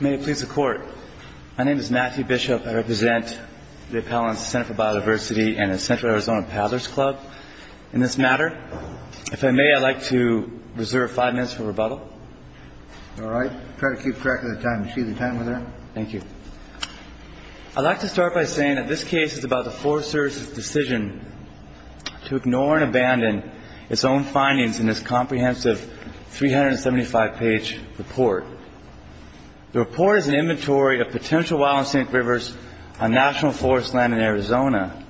May it please the court. My name is Matthew Bishop. I represent the Appellant's Center for Biodiversity and the Central Arizona Paddlers Club. In this matter, if I may, I'd like to reserve five minutes for rebuttal. All right. Try to keep track of the time. Do you see the time on there? Thank you. I'd like to start by saying that this case is about the Forest Service's decision to ignore and abandon its own findings in this comprehensive 375-page report. The report is an inventory of potential wild and scenic rivers on national forest land in Arizona.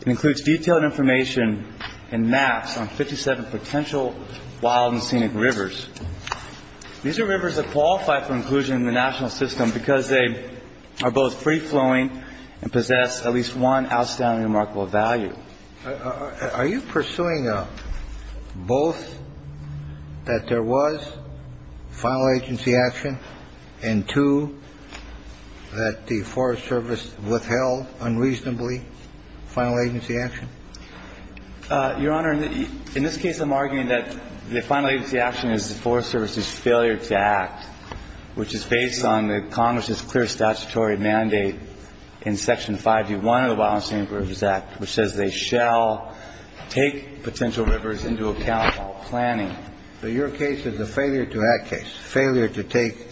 It includes detailed information and maps on 57 potential wild and scenic rivers. These are rivers that qualify for inclusion in the national system because they are both free-flowing and possess at least one outstanding remarkable value. Are you pursuing both that there was final agency action and two, that the Forest Service withheld unreasonably final agency action? Your Honor, in this case, I'm arguing that the final agency action is the Forest Service's failure to act, which is based on the Congress's clear statutory mandate in Section 5G1 of the Wild and Scenic Rivers Act, which says they shall take potential rivers into account while planning. But your case is a failure to act case, failure to take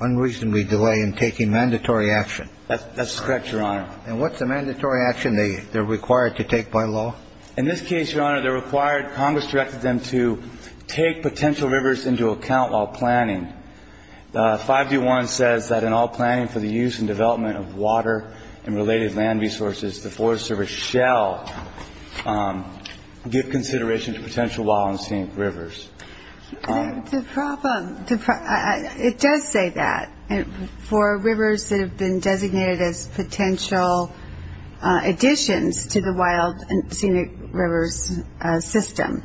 unreasonably delay in taking mandatory action. That's correct, Your Honor. And what's the mandatory action they're required to take by law? In this case, Your Honor, they're required, Congress directed them to take potential rivers into account while planning. 5G1 says that in all planning for the use and development of water and related land resources, the Forest Service shall give consideration to potential wild and scenic rivers. The problem, it does say that for rivers that have been designated as potential additions to the wild and scenic rivers system.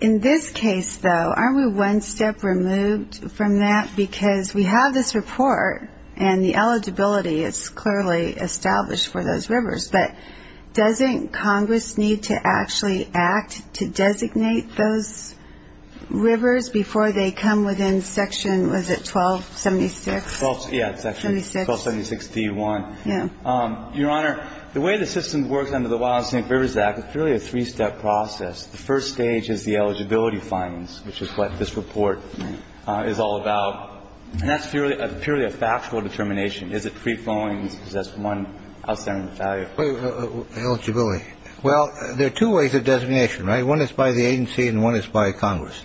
In this case, though, aren't we one step removed from that? Because we have this report, and the eligibility is clearly established for those rivers. But doesn't Congress need to actually act to designate those rivers before they come within Section, was it, 1276? Yeah, it's actually 1276D1. Yeah. Your Honor, the way the system works under the Wild and Scenic Rivers Act, it's really a three-step process. The first stage is the eligibility findings, which is what this report is all about. And that's purely a factual determination. Is it free flowing? Because that's one outstanding value. Wait. Eligibility. Well, there are two ways of designation, right? One is by the agency and one is by Congress.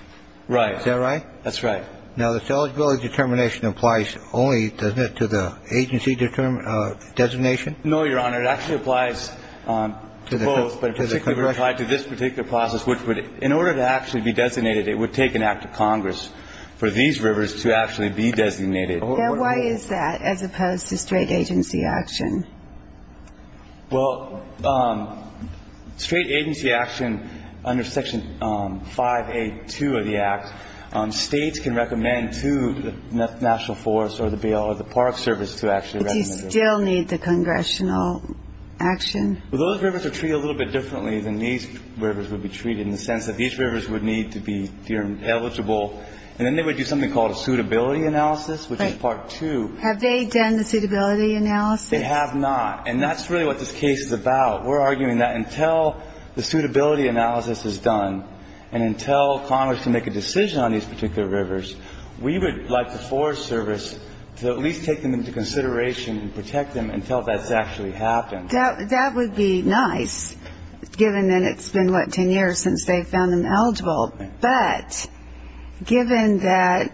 Right. Is that right? That's right. Now, this eligibility determination applies only, doesn't it, to the agency designation? No, Your Honor. It actually applies to both, but particularly to this particular process, which would, in order to actually be designated, it would take an act of Congress for these rivers to actually be designated. Now, why is that as opposed to straight agency action? Well, straight agency action under Section 5A2 of the Act, states can recommend to the National Forests or the BL or the Park Service to actually recommend it. Do they still need the congressional action? Well, those rivers are treated a little bit differently than these rivers would be treated, in the sense that these rivers would need to be deemed eligible. And then they would do something called a suitability analysis, which is Part 2. Have they done the suitability analysis? They have not. And that's really what this case is about. We're arguing that until the suitability analysis is done and until Congress can make a decision on these particular rivers, we would like the Forest Service to at least take them into consideration and protect them until that's actually happened. That would be nice, given that it's been, what, ten years since they found them eligible. But given that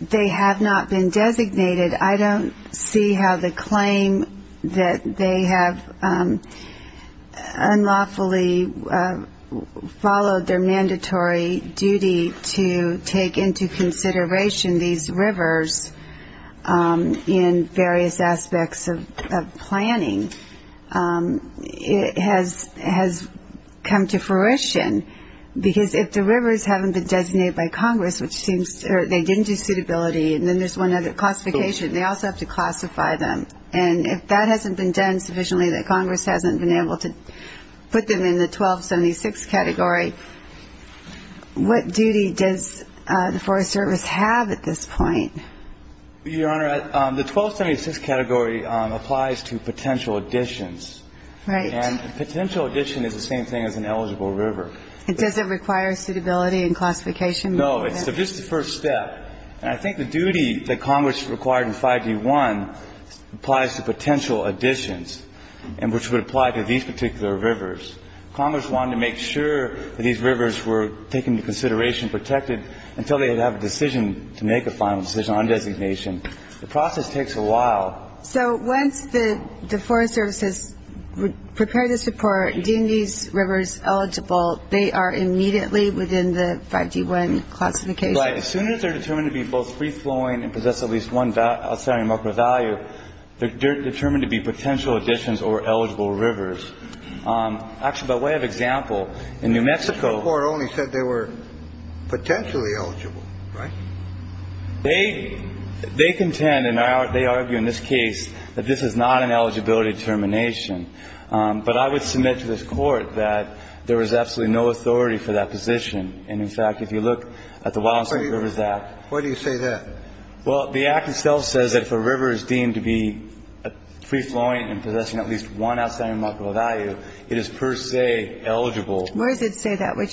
they have not been designated, I don't see how the claim that they have unlawfully followed their mandatory duty to take into consideration these rivers in various aspects of planning has come to fruition. Because if the rivers haven't been designated by Congress, which seems they didn't do suitability, and then there's one other classification, they also have to classify them. And if that hasn't been done sufficiently that Congress hasn't been able to put them in the 1276 category, what duty does the Forest Service have at this point? Your Honor, the 1276 category applies to potential additions. Right. And a potential addition is the same thing as an eligible river. Does it require suitability and classification? No. It's just the first step. And I think the duty that Congress required in 5D1 applies to potential additions, and which would apply to these particular rivers. Congress wanted to make sure that these rivers were taken into consideration, protected, until they would have a decision to make a final decision on designation. The process takes a while. So once the Forest Service has prepared the support, deemed these rivers eligible, they are immediately within the 5D1 classification? Right. As soon as they're determined to be both free-flowing and possess at least one outstanding market value, they're determined to be potential additions or eligible rivers. Actually, by way of example, in New Mexico. The Supreme Court only said they were potentially eligible. Right? They contend, and they argue in this case, that this is not an eligibility determination. But I would submit to this Court that there was absolutely no authority for that position. And, in fact, if you look at the Wildlife and Rivers Act. Why do you say that? Well, the Act itself says that if a river is deemed to be free-flowing and possessing at least one outstanding market value, it is per se eligible. Where does it say that? Which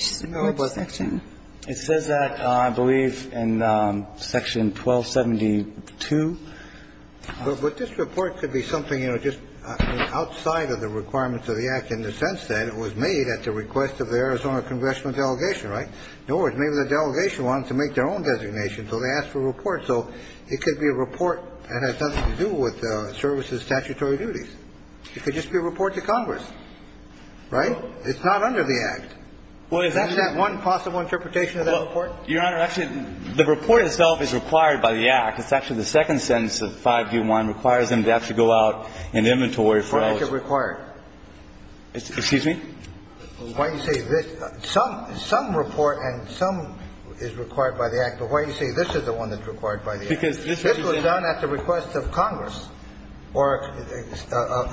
section? It says that, I believe, in Section 1272. But this report could be something, you know, just outside of the requirements of the Act in the sense that it was made at the request of the Arizona congressional delegation, right? In other words, maybe the delegation wanted to make their own designation, so they asked for a report. So it could be a report that has nothing to do with services, statutory duties. It could just be a report to Congress. Right? It's not under the Act. Isn't that one possible interpretation of that report? Your Honor, actually, the report itself is required by the Act. It's actually the second sentence of 5G1 requires them to actually go out in inventory for those. Why is it required? Excuse me? Why do you say this? Some report and some is required by the Act. But why do you say this is the one that's required by the Act? Because this was done at the request of Congress or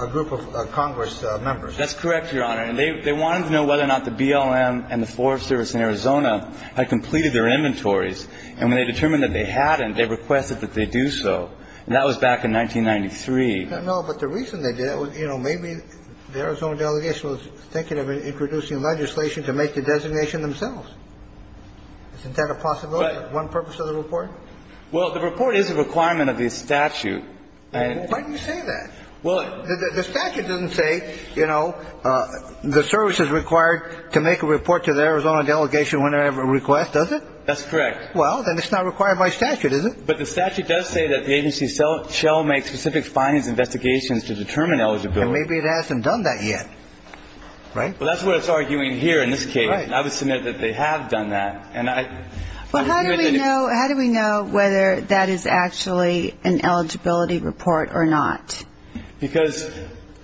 a group of Congress members. That's correct, Your Honor. And they wanted to know whether or not the BLM and the Forest Service in Arizona had completed their inventories. And when they determined that they hadn't, they requested that they do so. And that was back in 1993. No, but the reason they did it was, you know, maybe the Arizona delegation was thinking of introducing legislation to make the designation themselves. Isn't that a possibility? Well, the report is a requirement of the statute. Why do you say that? Well, the statute doesn't say, you know, the service is required to make a report to the Arizona delegation whenever they request, does it? That's correct. Well, then it's not required by statute, is it? But the statute does say that the agency shall make specific findings and investigations to determine eligibility. And maybe it hasn't done that yet, right? Well, that's what it's arguing here in this case. Right. And I would submit that they have done that. Well, how do we know whether that is actually an eligibility report or not? Because,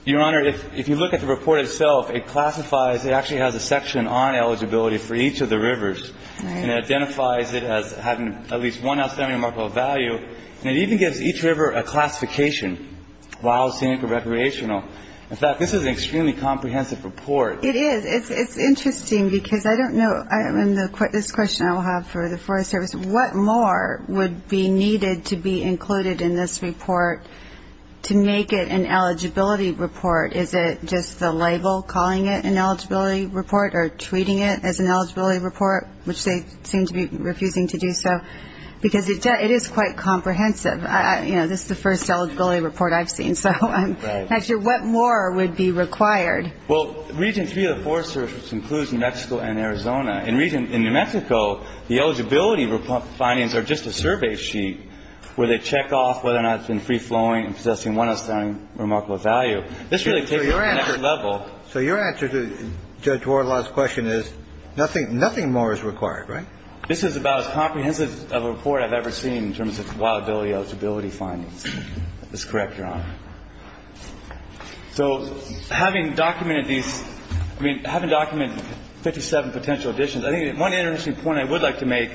Your Honor, if you look at the report itself, it classifies, it actually has a section on eligibility for each of the rivers. Right. And it identifies it as having at least one outstanding remarkable value. And it even gives each river a classification, wild, scenic, or recreational. In fact, this is an extremely comprehensive report. It is. And it's interesting because I don't know, and this question I will have for the Forest Service, what more would be needed to be included in this report to make it an eligibility report? Is it just the label calling it an eligibility report or treating it as an eligibility report, which they seem to be refusing to do so? Because it is quite comprehensive. You know, this is the first eligibility report I've seen, so I'm not sure what more would be required. Well, Region 3 of the Forest Service includes New Mexico and Arizona. In New Mexico, the eligibility findings are just a survey sheet where they check off whether or not it's been free-flowing and possessing one outstanding remarkable value. This really takes it to another level. So your answer to Judge Warren's last question is nothing more is required, right? This is about as comprehensive of a report I've ever seen in terms of compatibility eligibility findings. That's correct, Your Honor. So having documented these, I mean, having documented 57 potential additions, I think one interesting point I would like to make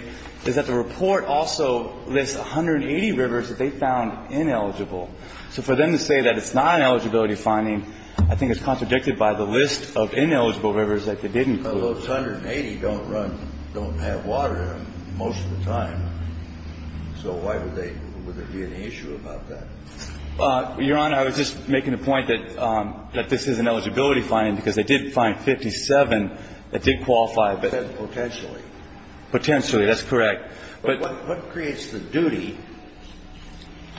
is that the report also lists 180 rivers that they found ineligible. So for them to say that it's not an eligibility finding, I think it's contradicted by the list of ineligible rivers that they didn't include. Well, those 180 don't run, don't have water in them most of the time. So why would they, would there be an issue about that? Your Honor, I was just making the point that this is an eligibility finding because they did find 57 that did qualify. Potentially. Potentially. That's correct. But what creates the duty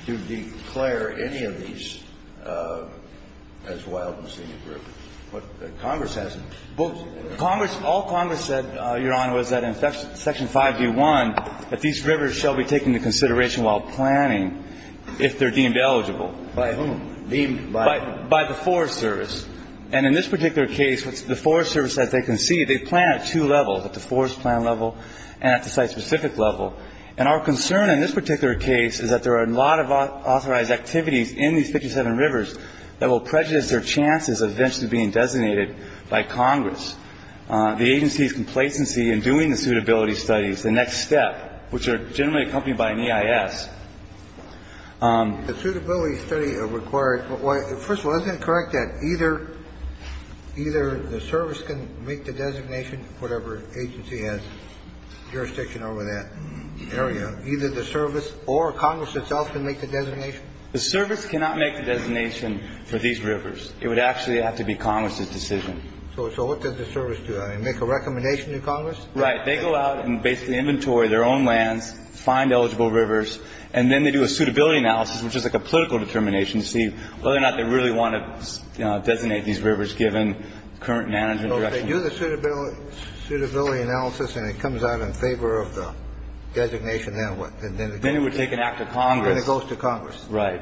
to declare any of these as wild and senior group? Congress hasn't. Congress, all Congress said, Your Honor, was that in Section 5d1, that these rivers shall be taken into consideration while planning if they're deemed eligible. By whom? Deemed by? By the Forest Service. And in this particular case, the Forest Service, as they concede, they plan at two levels, at the forest plan level and at the site-specific level. And our concern in this particular case is that there are a lot of authorized activities in these 57 rivers that will prejudice their chances of eventually being designated by Congress. The agency's complacency in doing the suitability studies, the next step, which are generally accompanied by an EIS. The suitability study required, first of all, isn't it correct that either, either the service can make the designation, whatever agency has jurisdiction over that area, either the service or Congress itself can make the designation? The service cannot make the designation for these rivers. It would actually have to be Congress's decision. So what does the service do? Make a recommendation to Congress? Right. They go out and basically inventory their own lands, find eligible rivers, and then they do a suitability analysis, which is like a political determination to see whether or not they really want to designate these rivers given current management. So if they do the suitability analysis and it comes out in favor of the designation, then what? Then it would take an act of Congress. Then it goes to Congress. Right.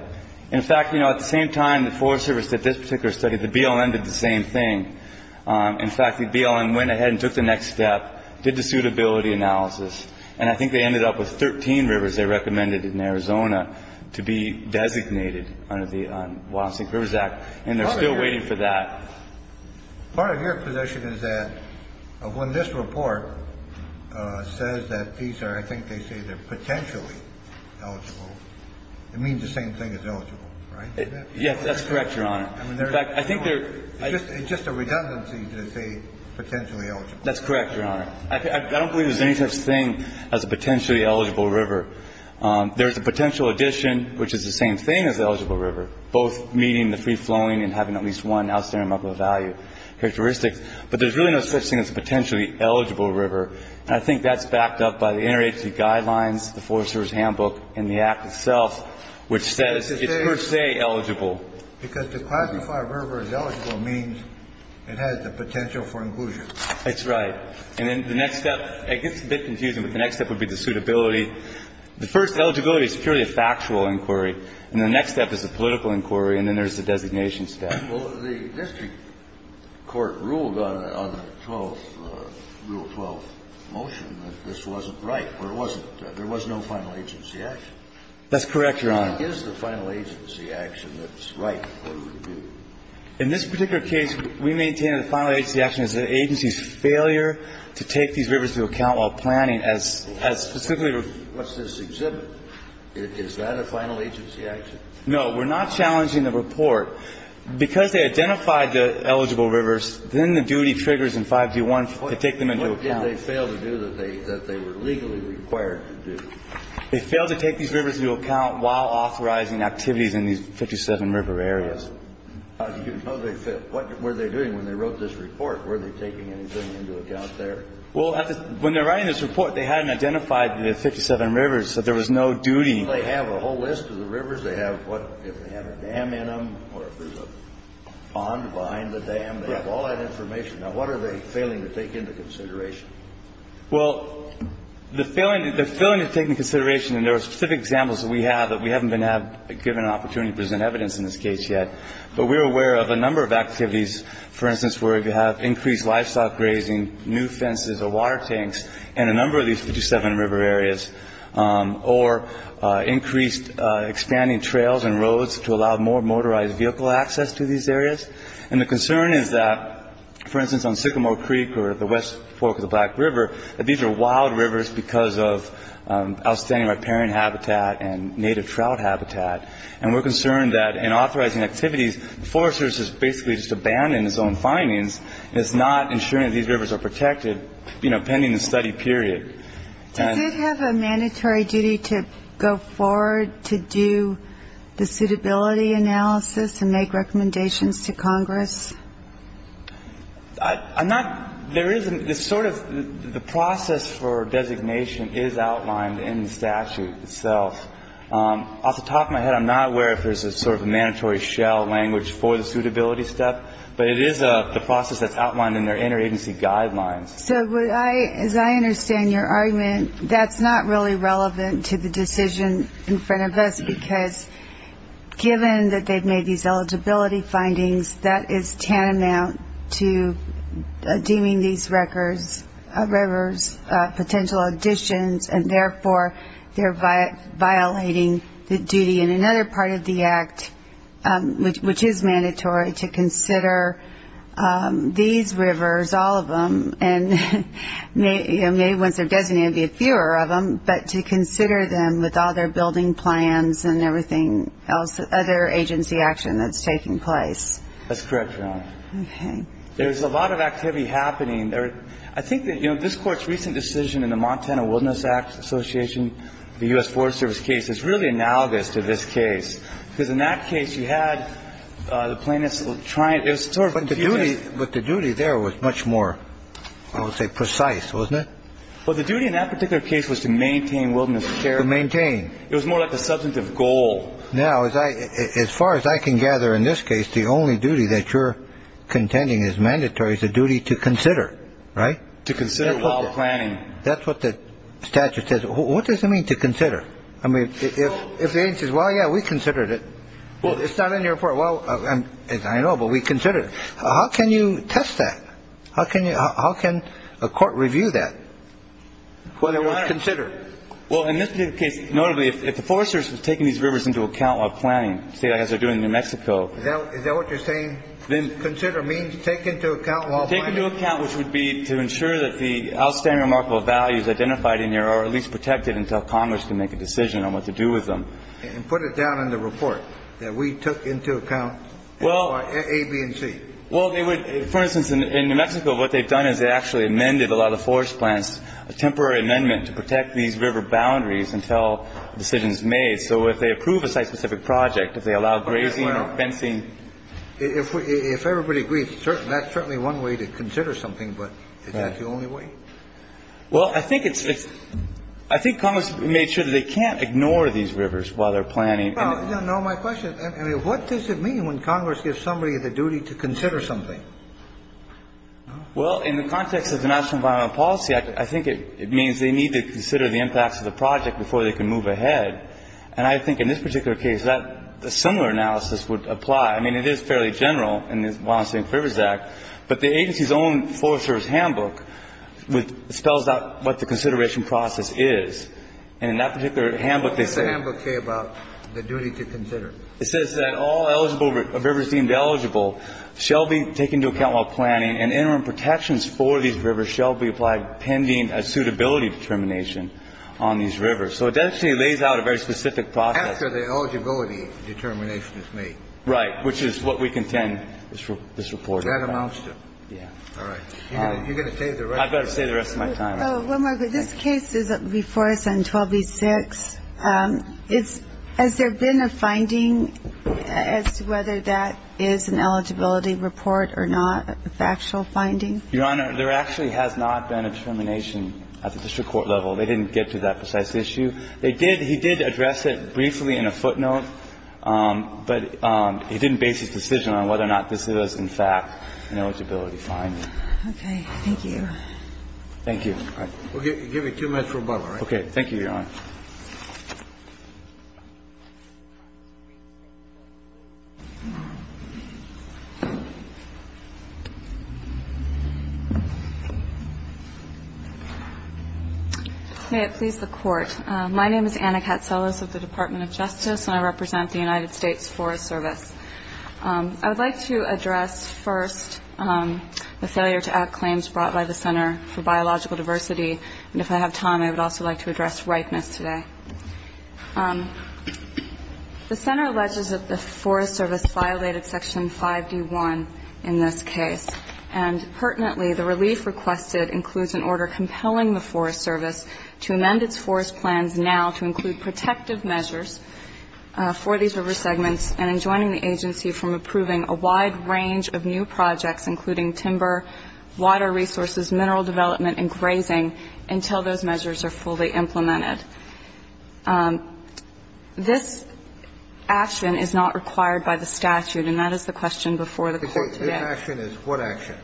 In fact, you know, at the same time the Forest Service did this particular study, the BLM did the same thing. In fact, the BLM went ahead and took the next step, did the suitability analysis, and I think they ended up with 13 rivers they recommended in Arizona to be designated under the Wild and Sink Rivers Act, and they're still waiting for that. Part of your position is that when this report says that these are, I think they say they're potentially eligible, it means the same thing as eligible, right? Yes, that's correct, Your Honor. In fact, I think they're just a redundancy to say potentially eligible. That's correct, Your Honor. I don't believe there's any such thing as a potentially eligible river. There is a potential addition, which is the same thing as the eligible river, both meeting the free-flowing and having at least one outstanding amount of value characteristics. But there's really no such thing as a potentially eligible river. And I think that's backed up by the interagency guidelines, the Forest Service handbook, and the Act itself, which says it's per se eligible. Because to classify a river as eligible means it has the potential for inclusion. That's right. And then the next step, it gets a bit confusing, but the next step would be the suitability. The first eligibility is purely a factual inquiry, and the next step is a political inquiry, and then there's the designation step. Well, the district court ruled on the 12th, Rule 12 motion, that this wasn't right, or it wasn't. There was no final agency action. That's correct, Your Honor. If it is the final agency action that's right, what do we do? In this particular case, we maintain the final agency action is the agency's failure to take these rivers into account while planning as specifically. What's this exhibit? Is that a final agency action? No. We're not challenging the report. Because they identified the eligible rivers, then the duty triggers in 5G1 to take them into account. What did they fail to do that they were legally required to do? They failed to take these rivers into account while authorizing activities in these 57 river areas. You know they failed. What were they doing when they wrote this report? Were they taking anything into account there? Well, when they're writing this report, they hadn't identified the 57 rivers, so there was no duty. They have a whole list of the rivers. They have what, if they have a dam in them or if there's a pond behind the dam. They have all that information. Now, what are they failing to take into consideration? Well, they're failing to take into consideration, and there are specific examples that we have that we haven't been given an opportunity to present evidence in this case yet. But we're aware of a number of activities, for instance, where we have increased livestock grazing, new fences or water tanks in a number of these 57 river areas, or increased expanding trails and roads to allow more motorized vehicle access to these areas. And the concern is that, for instance, on Sycamore Creek or the West Fork of the Black River, that these are wild rivers because of outstanding riparian habitat and native trout habitat. And we're concerned that in authorizing activities, the Forest Service has basically just abandoned its own findings and is not ensuring that these rivers are protected, you know, pending the study period. Does it have a mandatory duty to go forward to do the suitability analysis and make recommendations to Congress? I'm not – there isn't – it's sort of – the process for designation is outlined in the statute itself. Off the top of my head, I'm not aware if there's a sort of mandatory shell language for the suitability step, but it is the process that's outlined in their interagency guidelines. So would I – as I understand your argument, that's not really relevant to the decision in front of us, because given that they've made these eligibility findings, that is tantamount to deeming these records – rivers potential additions, and therefore they're violating the duty in another part of the Act, which is mandatory, to consider these rivers, all of them, and maybe once they're designated, there will be fewer of them, but to consider them with all their building plans and everything else, other agency action that's taking place. That's correct, Your Honor. Okay. There's a lot of activity happening. I think that, you know, this Court's recent decision in the Montana Wilderness Act Association, the U.S. Forest Service case, is really analogous to this case because in that case you had the plaintiffs trying – it was sort of confusing. But the duty there was much more, I would say, precise, wasn't it? Well, the duty in that particular case was to maintain wilderness. To maintain. It was more like a substantive goal. Now, as far as I can gather in this case, the only duty that you're contending is mandatory is the duty to consider, right? To consider while planning. That's what the statute says. What does it mean to consider? I mean, if the agency says, well, yeah, we considered it. Well, it's not in your report. Well, I know, but we considered it. How can you test that? How can a court review that? Whether it was considered. Well, in this particular case, notably, if the Forest Service was taking these rivers into account while planning, say like as they're doing in New Mexico. Is that what you're saying? Consider means take into account while planning. Take into account, which would be to ensure that the outstanding remarkable values identified in here are at least protected until Congress can make a decision on what to do with them. And put it down in the report that we took into account A, B, and C. Well, they would. For instance, in New Mexico, what they've done is they actually amended a lot of forest plants, a temporary amendment to protect these river boundaries until a decision is made. So if they approve a site-specific project, if they allow grazing or fencing. If everybody agrees, that's certainly one way to consider something. But is that the only way? Well, I think it's, I think Congress made sure that they can't ignore these rivers while they're planning. No, my question, what does it mean when Congress gives somebody the duty to consider something? Well, in the context of the National Environmental Policy Act, I think it means they need to consider the impacts of the project before they can move ahead. And I think in this particular case that a similar analysis would apply. I mean, it is fairly general in the Environmental Safety and Rivers Act. But the agency's own Forest Service handbook spells out what the consideration process is. And in that particular handbook, they say. What does the handbook say about the duty to consider? It says that all eligible rivers deemed eligible shall be taken into account while planning, and interim protections for these rivers shall be applied pending a suitability determination on these rivers. So it actually lays out a very specific process. After the eligibility determination is made. Right. Which is what we contend is reported. That amounts to. Yeah. All right. You're going to stay there, right? I better stay the rest of my time. One more. This case is before us on 12B-6. Has there been a finding as to whether that is an eligibility report or not? A factual finding? Your Honor, there actually has not been a determination at the district court level. They didn't get to that precise issue. They did. He did address it briefly in a footnote, but he didn't base his decision on whether or not this is, in fact, an eligibility finding. Okay. Thank you. Thank you. All right. We'll give you two minutes for rebuttal, all right? Okay. Thank you, Your Honor. May it please the Court. My name is Anna Katzelos of the Department of Justice, and I represent the United States Forest Service. I would like to address first the failure to act claims brought by the Center for Biological Diversity, and if I have time, I would also like to address ripeness today. The Center alleges that the Forest Service violated Section 5D1 in this case, and pertinently, the relief requested includes an order compelling the Forest Service to amend its forest plans now to include protective measures for these river segments, and enjoining the agency from approving a wide range of new projects, including timber, water resources, mineral development, and grazing, until those measures are fully implemented. This action is not required by the statute, and that is the question before the Court today. This action is what action?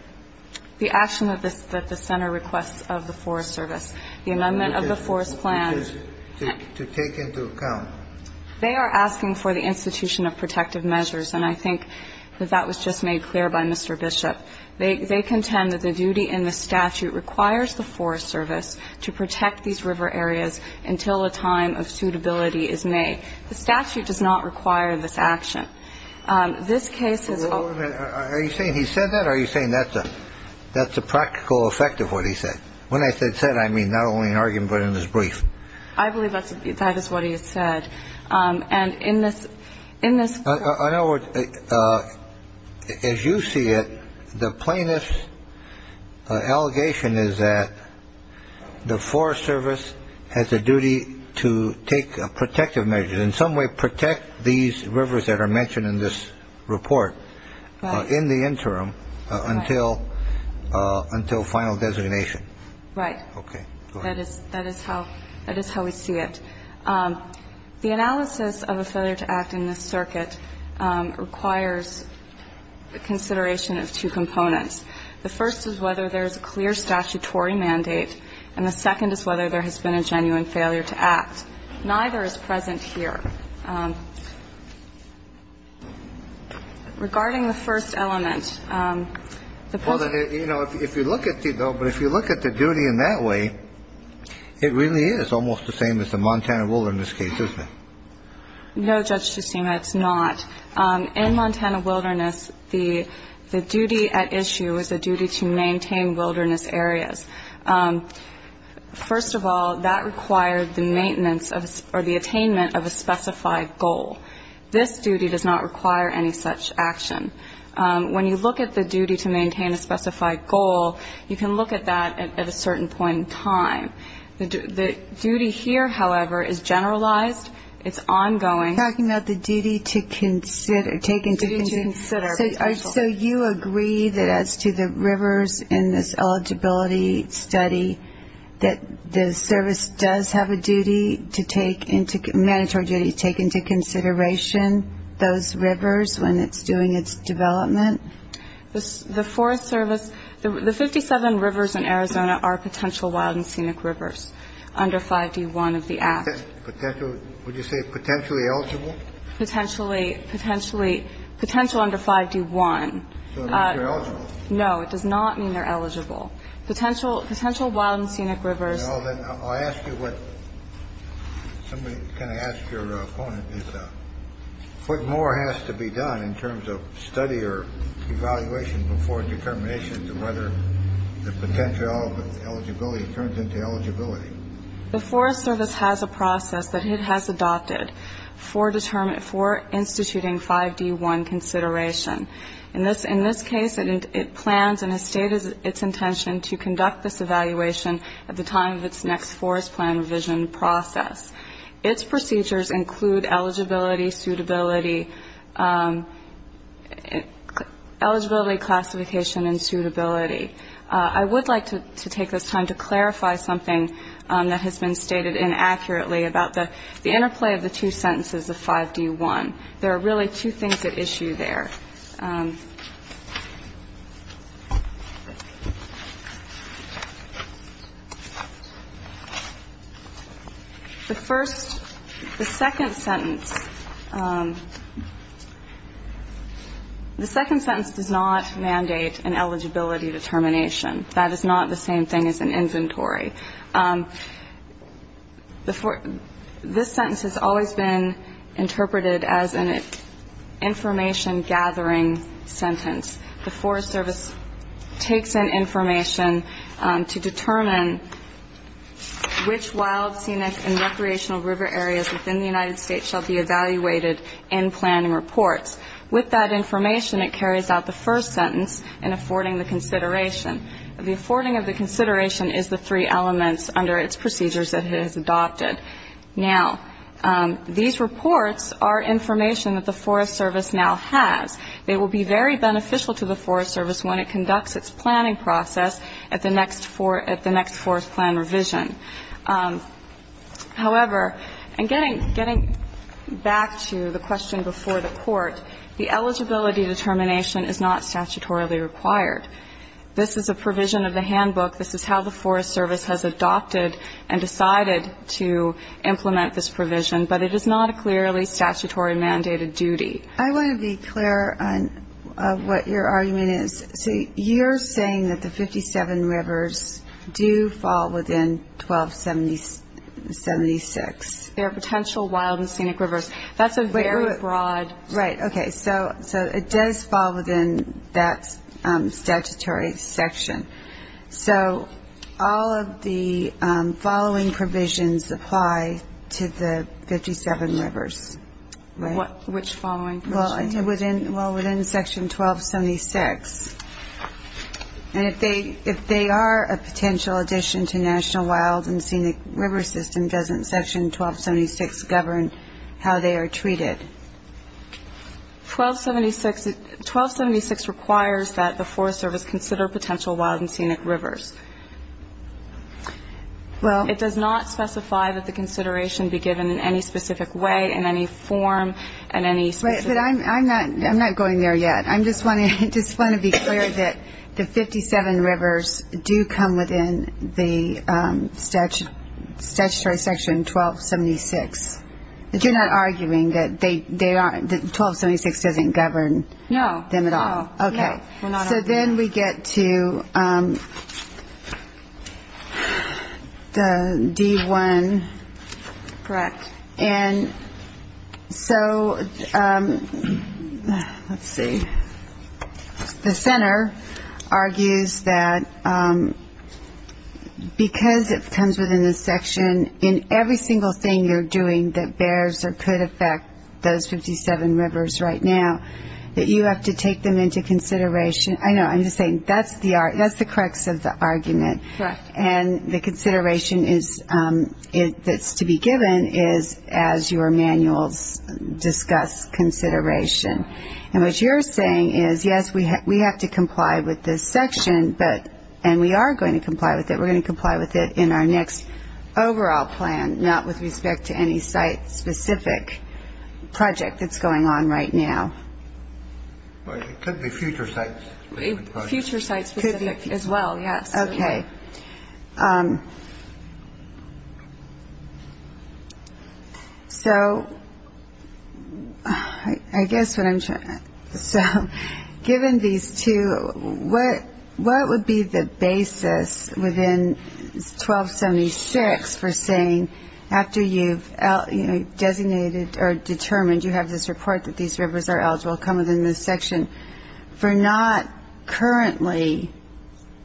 The action that the Center requests of the Forest Service, the amendment of the forest plan. Which is to take into account. They are asking for the institution of protective measures, and I think that that was just made clear by Mr. Bishop. They contend that the duty in the statute requires the Forest Service to protect these river areas until a time of suitability is made. The statute does not require this action. This case is. Wait a minute. Are you saying he said that, or are you saying that's a practical effect of what he said? When I said said, I mean not only in argument, but in his brief. I believe that that is what he said. And in this in this. I know. As you see it. The plaintiff's allegation is that the Forest Service has a duty to take protective measures in some way, protect these rivers that are mentioned in this report in the interim until until final designation. Right. Okay. That is that is how that is how we see it. The analysis of a failure to act in this circuit requires consideration of two components. The first is whether there is a clear statutory mandate, and the second is whether there has been a genuine failure to act. Neither is present here. Regarding the first element. Well, you know, if you look at it, but if you look at the duty in that way, it really is almost the same as the Montana Wilderness case, isn't it? No, Judge Tsutsuma, it's not. In Montana Wilderness, the the duty at issue is a duty to maintain wilderness areas. First of all, that required the maintenance of or the attainment of a specified goal. This duty does not require any such action. When you look at the duty to maintain a specified goal, you can look at that at a certain point in time. The duty here, however, is generalized. It's ongoing. You're talking about the duty to consider. So you agree that as to the rivers in this eligibility study, that the service does have a duty to take into mandatory duty to take into consideration those rivers when it's doing its development? The Forest Service, the 57 rivers in Arizona are potential wild and scenic rivers under 5D1 of the Act. Would you say potentially eligible? Potentially. Potentially. Potential under 5D1. So it means they're eligible. No, it does not mean they're eligible. Potential wild and scenic rivers. Well, then I'll ask you what somebody can ask your opponent is what more has to be done in terms of study or evaluation before determination of whether the potential eligibility turns into eligibility. The Forest Service has a process that it has adopted for instituting 5D1 consideration. In this case, it plans and has stated its intention to conduct this evaluation at the time of its next forest plan revision process. Its procedures include eligibility, suitability, eligibility classification, and suitability. I would like to take this time to clarify something that has been stated inaccurately about the interplay of the two sentences of 5D1. There are really two things at issue there. The first, the second sentence, the second sentence does not mandate an eligibility determination. That is not the same thing as an inventory. This sentence has always been interpreted as an information-gathering sentence. The Forest Service takes in information to determine which wild, scenic, and recreational river areas within the United States shall be evaluated in planning reports. With that information, it carries out the first sentence in affording the consideration. The affording of the consideration is the three elements under its procedures that it has adopted. Now, these reports are information that the Forest Service now has. They will be very beneficial to the Forest Service when it conducts its planning process at the next forest plan revision. However, and getting back to the question before the Court, the eligibility determination is not statutorily required. This is a provision of the handbook. This is how the Forest Service has adopted and decided to implement this provision. But it is not a clearly statutory mandated duty. I want to be clear on what your argument is. So you're saying that the 57 rivers do fall within 1276. They are potential wild and scenic rivers. That's a very broad ---- So all of the following provisions apply to the 57 rivers, right? Which following provisions? Well, within section 1276. And if they are a potential addition to national wild and scenic river system, doesn't section 1276 govern how they are treated? 1276 requires that the Forest Service consider potential wild and scenic rivers. Well ---- It does not specify that the consideration be given in any specific way, in any form, in any specific ---- But I'm not going there yet. I just want to be clear that the 57 rivers do come within the statutory section 1276. But you're not arguing that 1276 doesn't govern them at all? No. Okay. So then we get to the D1. Correct. And so let's see. The center argues that because it comes within the section, in every single thing you're doing that bears or could affect those 57 rivers right now, that you have to take them into consideration. I know, I'm just saying that's the crux of the argument. Correct. And the consideration that's to be given is as your manuals discuss consideration. And what you're saying is, yes, we have to comply with this section, and we are going to comply with it. We're going to comply with it in our next overall plan, not with respect to any site-specific project that's going on right now. It could be future sites. Future sites as well, yes. Okay. So I guess what I'm trying to say, given these two, what would be the basis within 1276 for saying after you've designated or determined you have this report that these rivers are eligible, come within this section, for not currently,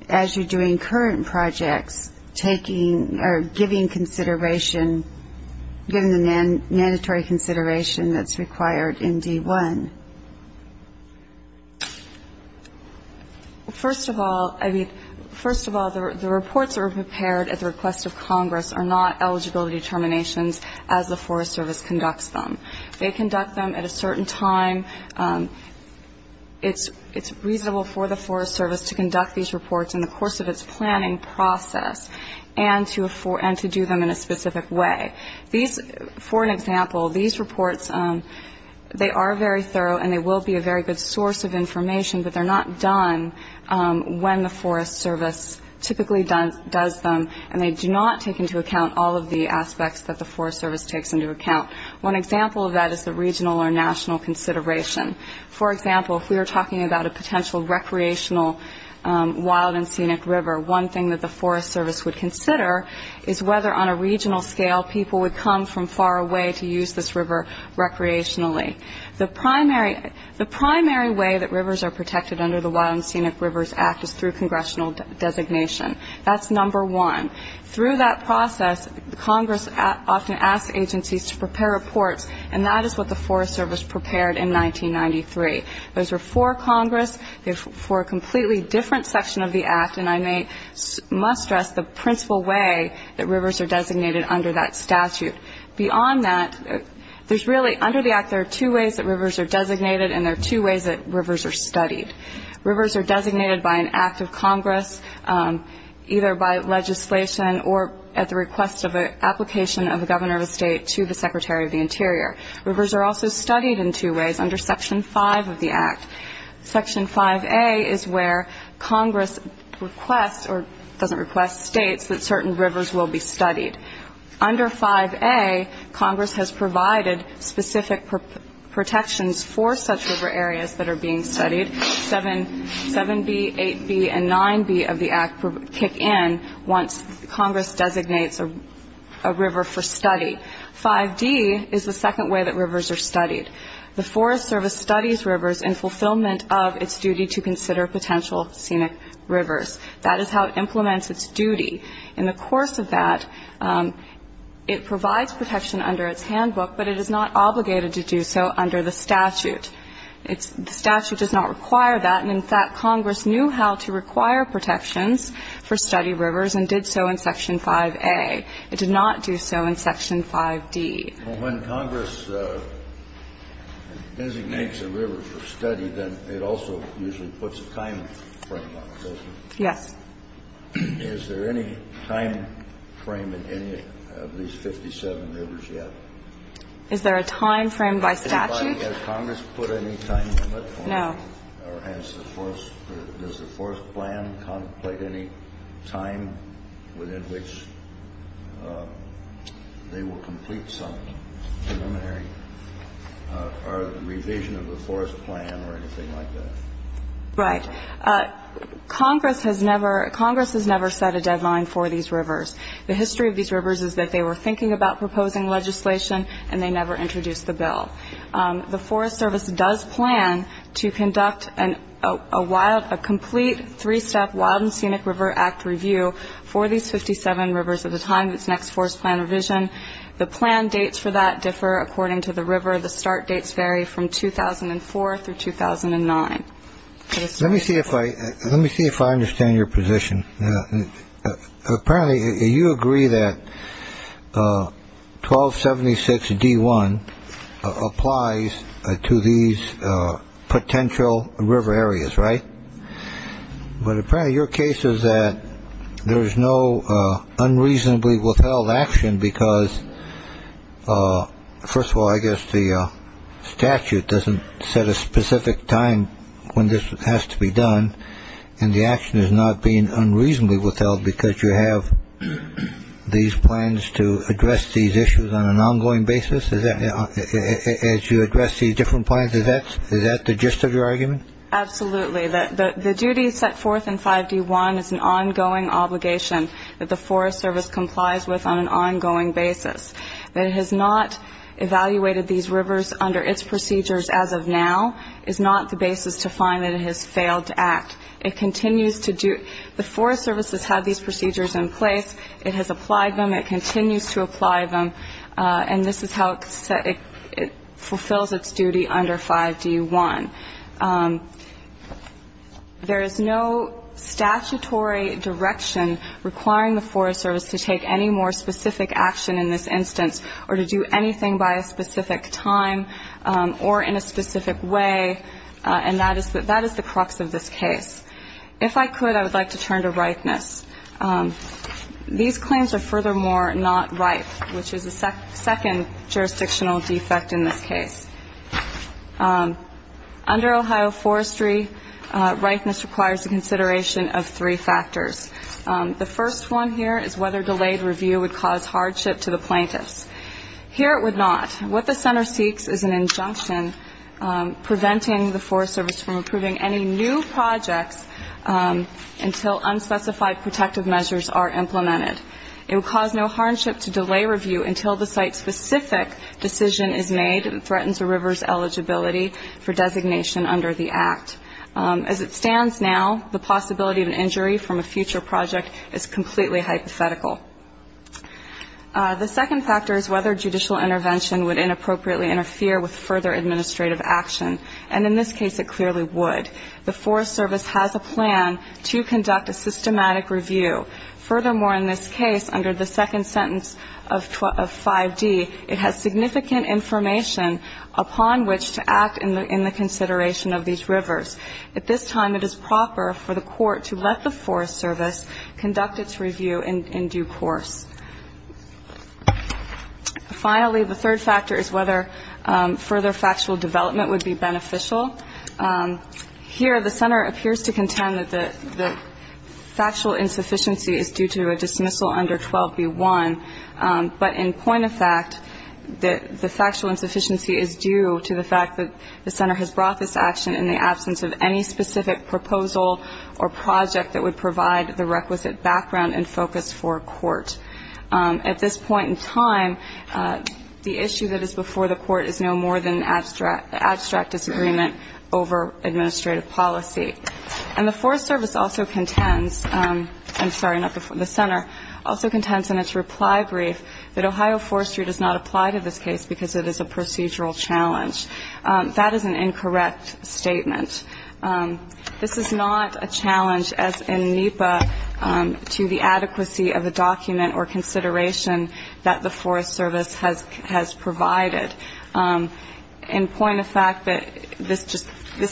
as you're doing current projects, taking or giving consideration, giving the mandatory consideration that's required in D1? First of all, the reports that were prepared at the request of Congress are not eligible determinations as the Forest Service conducts them. They conduct them at a certain time. It's reasonable for the Forest Service to conduct these reports in the course of its planning process and to do them in a specific way. For an example, these reports, they are very thorough, and they will be a very good source of information, but they're not done when the Forest Service typically does them, and they do not take into account all of the aspects that the Forest Service takes into account. One example of that is the regional or national consideration. For example, if we were talking about a potential recreational wild and scenic river, one thing that the Forest Service would consider is whether on a regional scale people would come from far away to use this river recreationally. The primary way that rivers are protected under the Wild and Scenic Rivers Act is through congressional designation. That's number one. Through that process, Congress often asks agencies to prepare reports, and that is what the Forest Service prepared in 1993. Those were for Congress, for a completely different section of the Act, and I must stress the principal way that rivers are designated under that statute. Beyond that, there's really, under the Act, there are two ways that rivers are designated, and there are two ways that rivers are studied. Rivers are designated by an act of Congress, either by legislation or at the request of an application of a governor of a state to the Secretary of the Interior. Rivers are also studied in two ways under Section 5 of the Act. Section 5A is where Congress requests, or doesn't request, states that certain rivers will be studied. Under 5A, Congress has provided specific protections for such river areas that are being studied. 7B, 8B, and 9B of the Act kick in once Congress designates a river for study. 5D is the second way that rivers are studied. The Forest Service studies rivers in fulfillment of its duty to consider potential scenic rivers. That is how it implements its duty. In the course of that, it provides protection under its handbook, but it is not obligated to do so under the statute. It's the statute does not require that. And, in fact, Congress knew how to require protections for study rivers and did so in Section 5A. It did not do so in Section 5D. Kennedy. Well, when Congress designates a river for study, then it also usually puts a timeframe on it, doesn't it? Yes. Is there any timeframe in any of these 57 rivers yet? Is there a timeframe by statute? Has Congress put any time limit on it? No. Or has the forest or does the forest plan contemplate any time within which they will complete some preliminary revision of the forest plan or anything like that? Right. Congress has never set a deadline for these rivers. The history of these rivers is that they were thinking about proposing legislation and they never introduced the bill. The Forest Service does plan to conduct a complete three-step Wild and Scenic River Act review for these 57 rivers at the time of its next forest plan revision. The plan dates for that differ according to the river. The start dates vary from 2004 through 2009. Let me see if I understand your position. Apparently you agree that 1276 D1 applies to these potential river areas, right? But apparently your case is that there is no unreasonably withheld action because, first of all, I guess the statute doesn't set a specific time when this has to be done and the action is not being unreasonably withheld because you have these plans to address these issues on an ongoing basis as you address these different plans. Is that the gist of your argument? Absolutely. The duty set forth in 5D1 is an ongoing obligation that the Forest Service complies with on an ongoing basis. That it has not evaluated these rivers under its procedures as of now is not the basis to find that it has failed to act. It continues to do the Forest Service has had these procedures in place. It has applied them. It continues to apply them. And this is how it fulfills its duty under 5D1. There is no statutory direction requiring the Forest Service to take any more specific action in this instance or to do anything by a specific time or in a specific way, and that is the crux of this case. If I could, I would like to turn to ripeness. These claims are furthermore not ripe, which is the second jurisdictional defect in this case. Under Ohio Forestry, ripeness requires the consideration of three factors. The first one here is whether delayed review would cause hardship to the plaintiffs. Here it would not. What the center seeks is an injunction preventing the Forest Service from approving any new projects until unspecified protective measures are implemented. It would cause no hardship to delay review until the site-specific decision is made As it stands now, the possibility of an injury from a future project is completely hypothetical. The second factor is whether judicial intervention would inappropriately interfere with further administrative action, and in this case it clearly would. The Forest Service has a plan to conduct a systematic review. Furthermore, in this case, under the second sentence of 5D, it has significant information upon which to act in the consideration of these rivers. At this time, it is proper for the court to let the Forest Service conduct its review in due course. Finally, the third factor is whether further factual development would be beneficial. Here the center appears to contend that the factual insufficiency is due to a dismissal under 12b-1, but in point of fact, the factual insufficiency is due to the fact that the center has brought this action in the absence of any specific proposal or project that would provide the requisite background and focus for court. At this point in time, the issue that is before the court is no more than an abstract disagreement over administrative policy. And the Forest Service also contends, I'm sorry, not the center, also contends in its reply brief that Ohio Forestry does not apply to this case because it is a procedural challenge. That is an incorrect statement. This is not a challenge, as in NEPA, to the adequacy of the document or consideration that the Forest Service has provided, in point of fact that this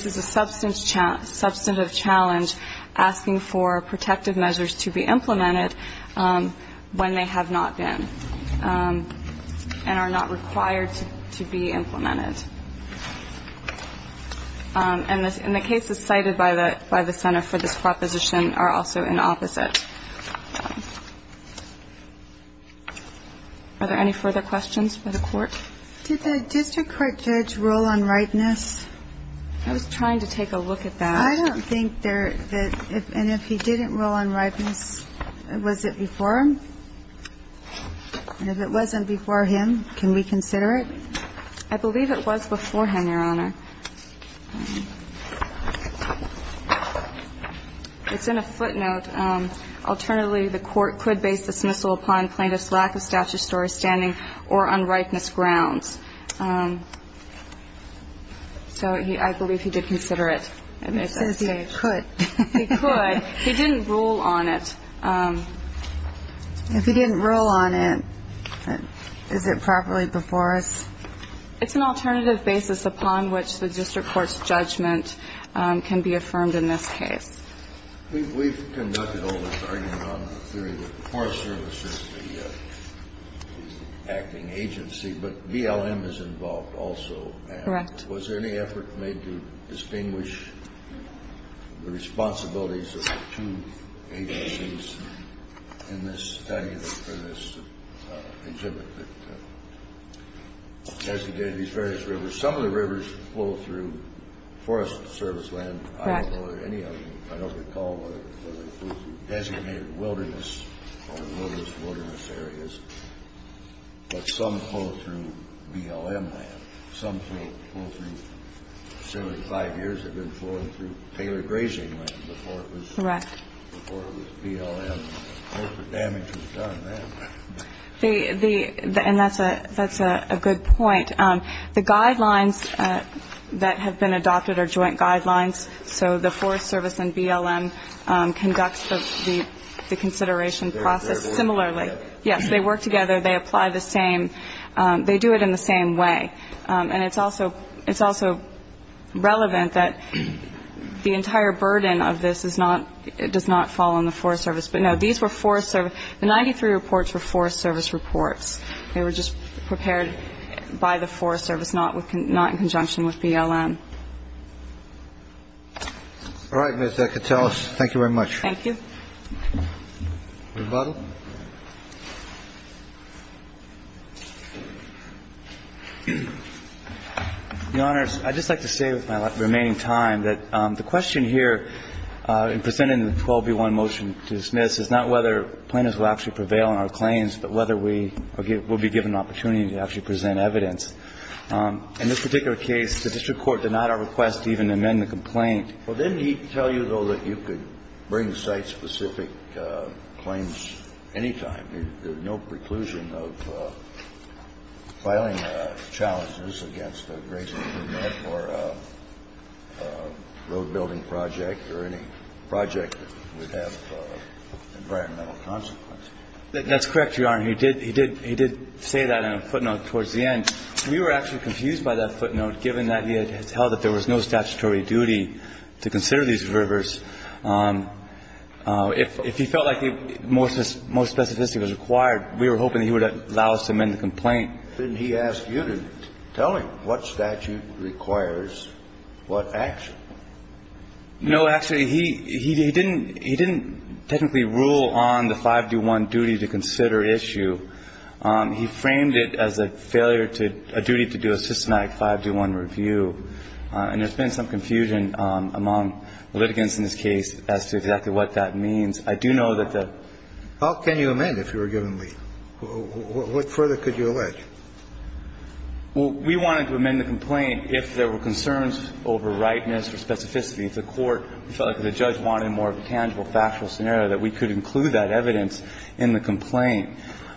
is a substantive challenge asking for protective measures to be implemented when they have not been and are not required to be implemented. And the cases cited by the center for this proposition are also in opposite. Are there any further questions for the court? Did the district court judge rule on ripeness? I was trying to take a look at that. I don't think there is. And if he didn't rule on ripeness, was it before him? And if it wasn't before him, can we consider it? I believe it was beforehand, Your Honor. It's in a footnote. Alternatively, the court could base dismissal upon plaintiff's lack of statutory standing or on ripeness grounds. So I believe he did consider it. It says he could. He could. He didn't rule on it. If he didn't rule on it, is it properly before us? It's an alternative basis upon which the district court's judgment can be affirmed in this case. We've conducted all this argument on the theory that the Forest Service is the acting agency, but BLM is involved also. Correct. Was there any effort made to distinguish the responsibilities of the two agencies in this study or this exhibit that designated these various rivers? Some of the rivers flow through Forest Service land. Correct. I don't know of any of them. I don't recall whether they flow through designated wilderness or wilderness-to-wilderness areas. But some flow through BLM land. Some flow through 75 years have been flowing through tailored grazing land before it was BLM. I don't know if the damage was done then. And that's a good point. The guidelines that have been adopted are joint guidelines. So the Forest Service and BLM conduct the consideration process similarly. Yes, they work together. They apply the same. They do it in the same way. And it's also relevant that the entire burden of this does not fall on the Forest Service. But, no, these were Forest Service. The 93 reports were Forest Service reports. They were just prepared by the Forest Service, not in conjunction with BLM. All right, Ms. Catales. Thank you very much. Thank you. Rebuttal. Your Honors, I'd just like to say with my remaining time that the question here in presenting the 12b1 motion to dismiss is not whether plaintiffs will actually prevail on our claims, but whether we will be given an opportunity to actually present evidence. In this particular case, the district court denied our request to even amend the complaint. Well, didn't he tell you, though, that you could bring site-specific claims anytime? There's no preclusion of filing challenges against a grazing permit or a road-building project or any project that would have environmental consequences. That's correct, Your Honor. He did say that in a footnote towards the end. We were actually confused by that footnote, given that he had held that there was no statutory duty to consider these rivers. If he felt like more specificity was required, we were hoping he would allow us to amend the complaint. Didn't he ask you to tell him what statute requires what action? No, actually, he didn't technically rule on the 5D1 duty to consider issue. He framed it as a failure to do, a duty to do a systematic 5D1 review. And there's been some confusion among litigants in this case as to exactly what that means. I do know that the ---- How can you amend if you were given leave? What further could you allege? We wanted to amend the complaint if there were concerns over rightness or specificity. If the court felt like the judge wanted more of a tangible, factual scenario, that we could include that evidence in the complaint.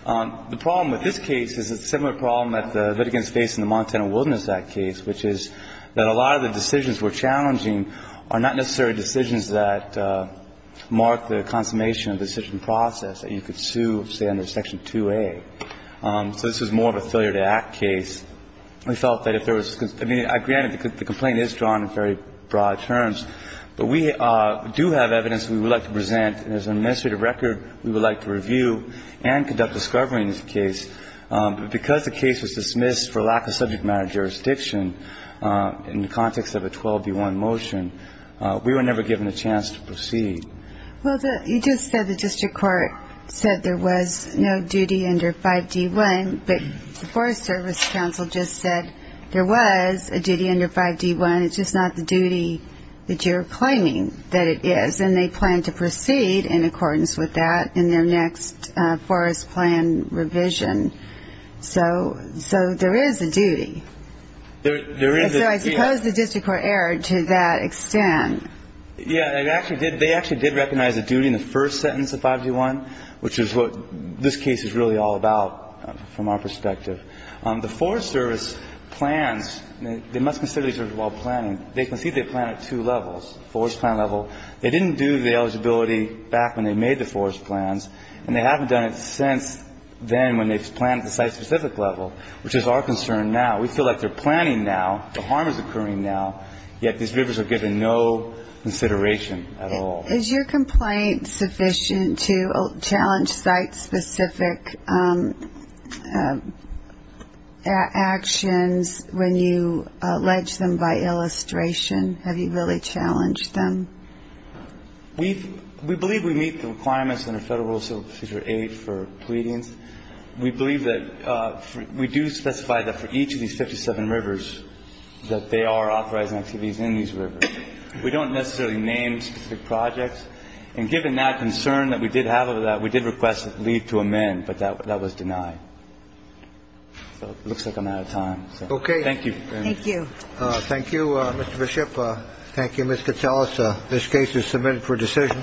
The problem with this case is a similar problem that the litigants face in the Montana Wilderness Act case, which is that a lot of the decisions we're challenging are not necessarily decisions that mark the consummation of the decision process that you could sue, say, under Section 2A. So this is more of a failure to act case. We felt that if there was ---- I mean, granted, the complaint is drawn in very broad terms, but we do have evidence we would like to present. And as an administrative record, we would like to review and conduct discovery in this case. But because the case was dismissed for lack of subject matter jurisdiction in the context of a 12D1 motion, we were never given a chance to proceed. Well, you just said the district court said there was no duty under 5D1, but the Forest Service Council just said there was a duty under 5D1. And it's just not the duty that you're claiming that it is. And they plan to proceed in accordance with that in their next forest plan revision. So there is a duty. There is a duty. So I suppose the district court erred to that extent. Yeah, they actually did recognize a duty in the first sentence of 5D1, which is what this case is really all about from our perspective. The Forest Service plans, they must consider these while planning. They concede they plan at two levels, forest plan level. They didn't do the eligibility back when they made the forest plans, and they haven't done it since then when they've planned at the site-specific level, which is our concern now. We feel like they're planning now, the harm is occurring now, yet these rivers are given no consideration at all. Is your complaint sufficient to challenge site-specific actions when you allege them by illustration? Have you really challenged them? We believe we meet the requirements under Federal Rules of Procedure 8 for pleadings. We believe that we do specify that for each of these 57 rivers, that they are authorizing activities in these rivers. We don't necessarily name specific projects. And given that concern that we did have over that, we did request leave to amend, but that was denied. So it looks like I'm out of time. Okay. Thank you. Thank you. Thank you, Mr. Bishop. Thank you, Ms. Katyalas. This case is submitted for decision.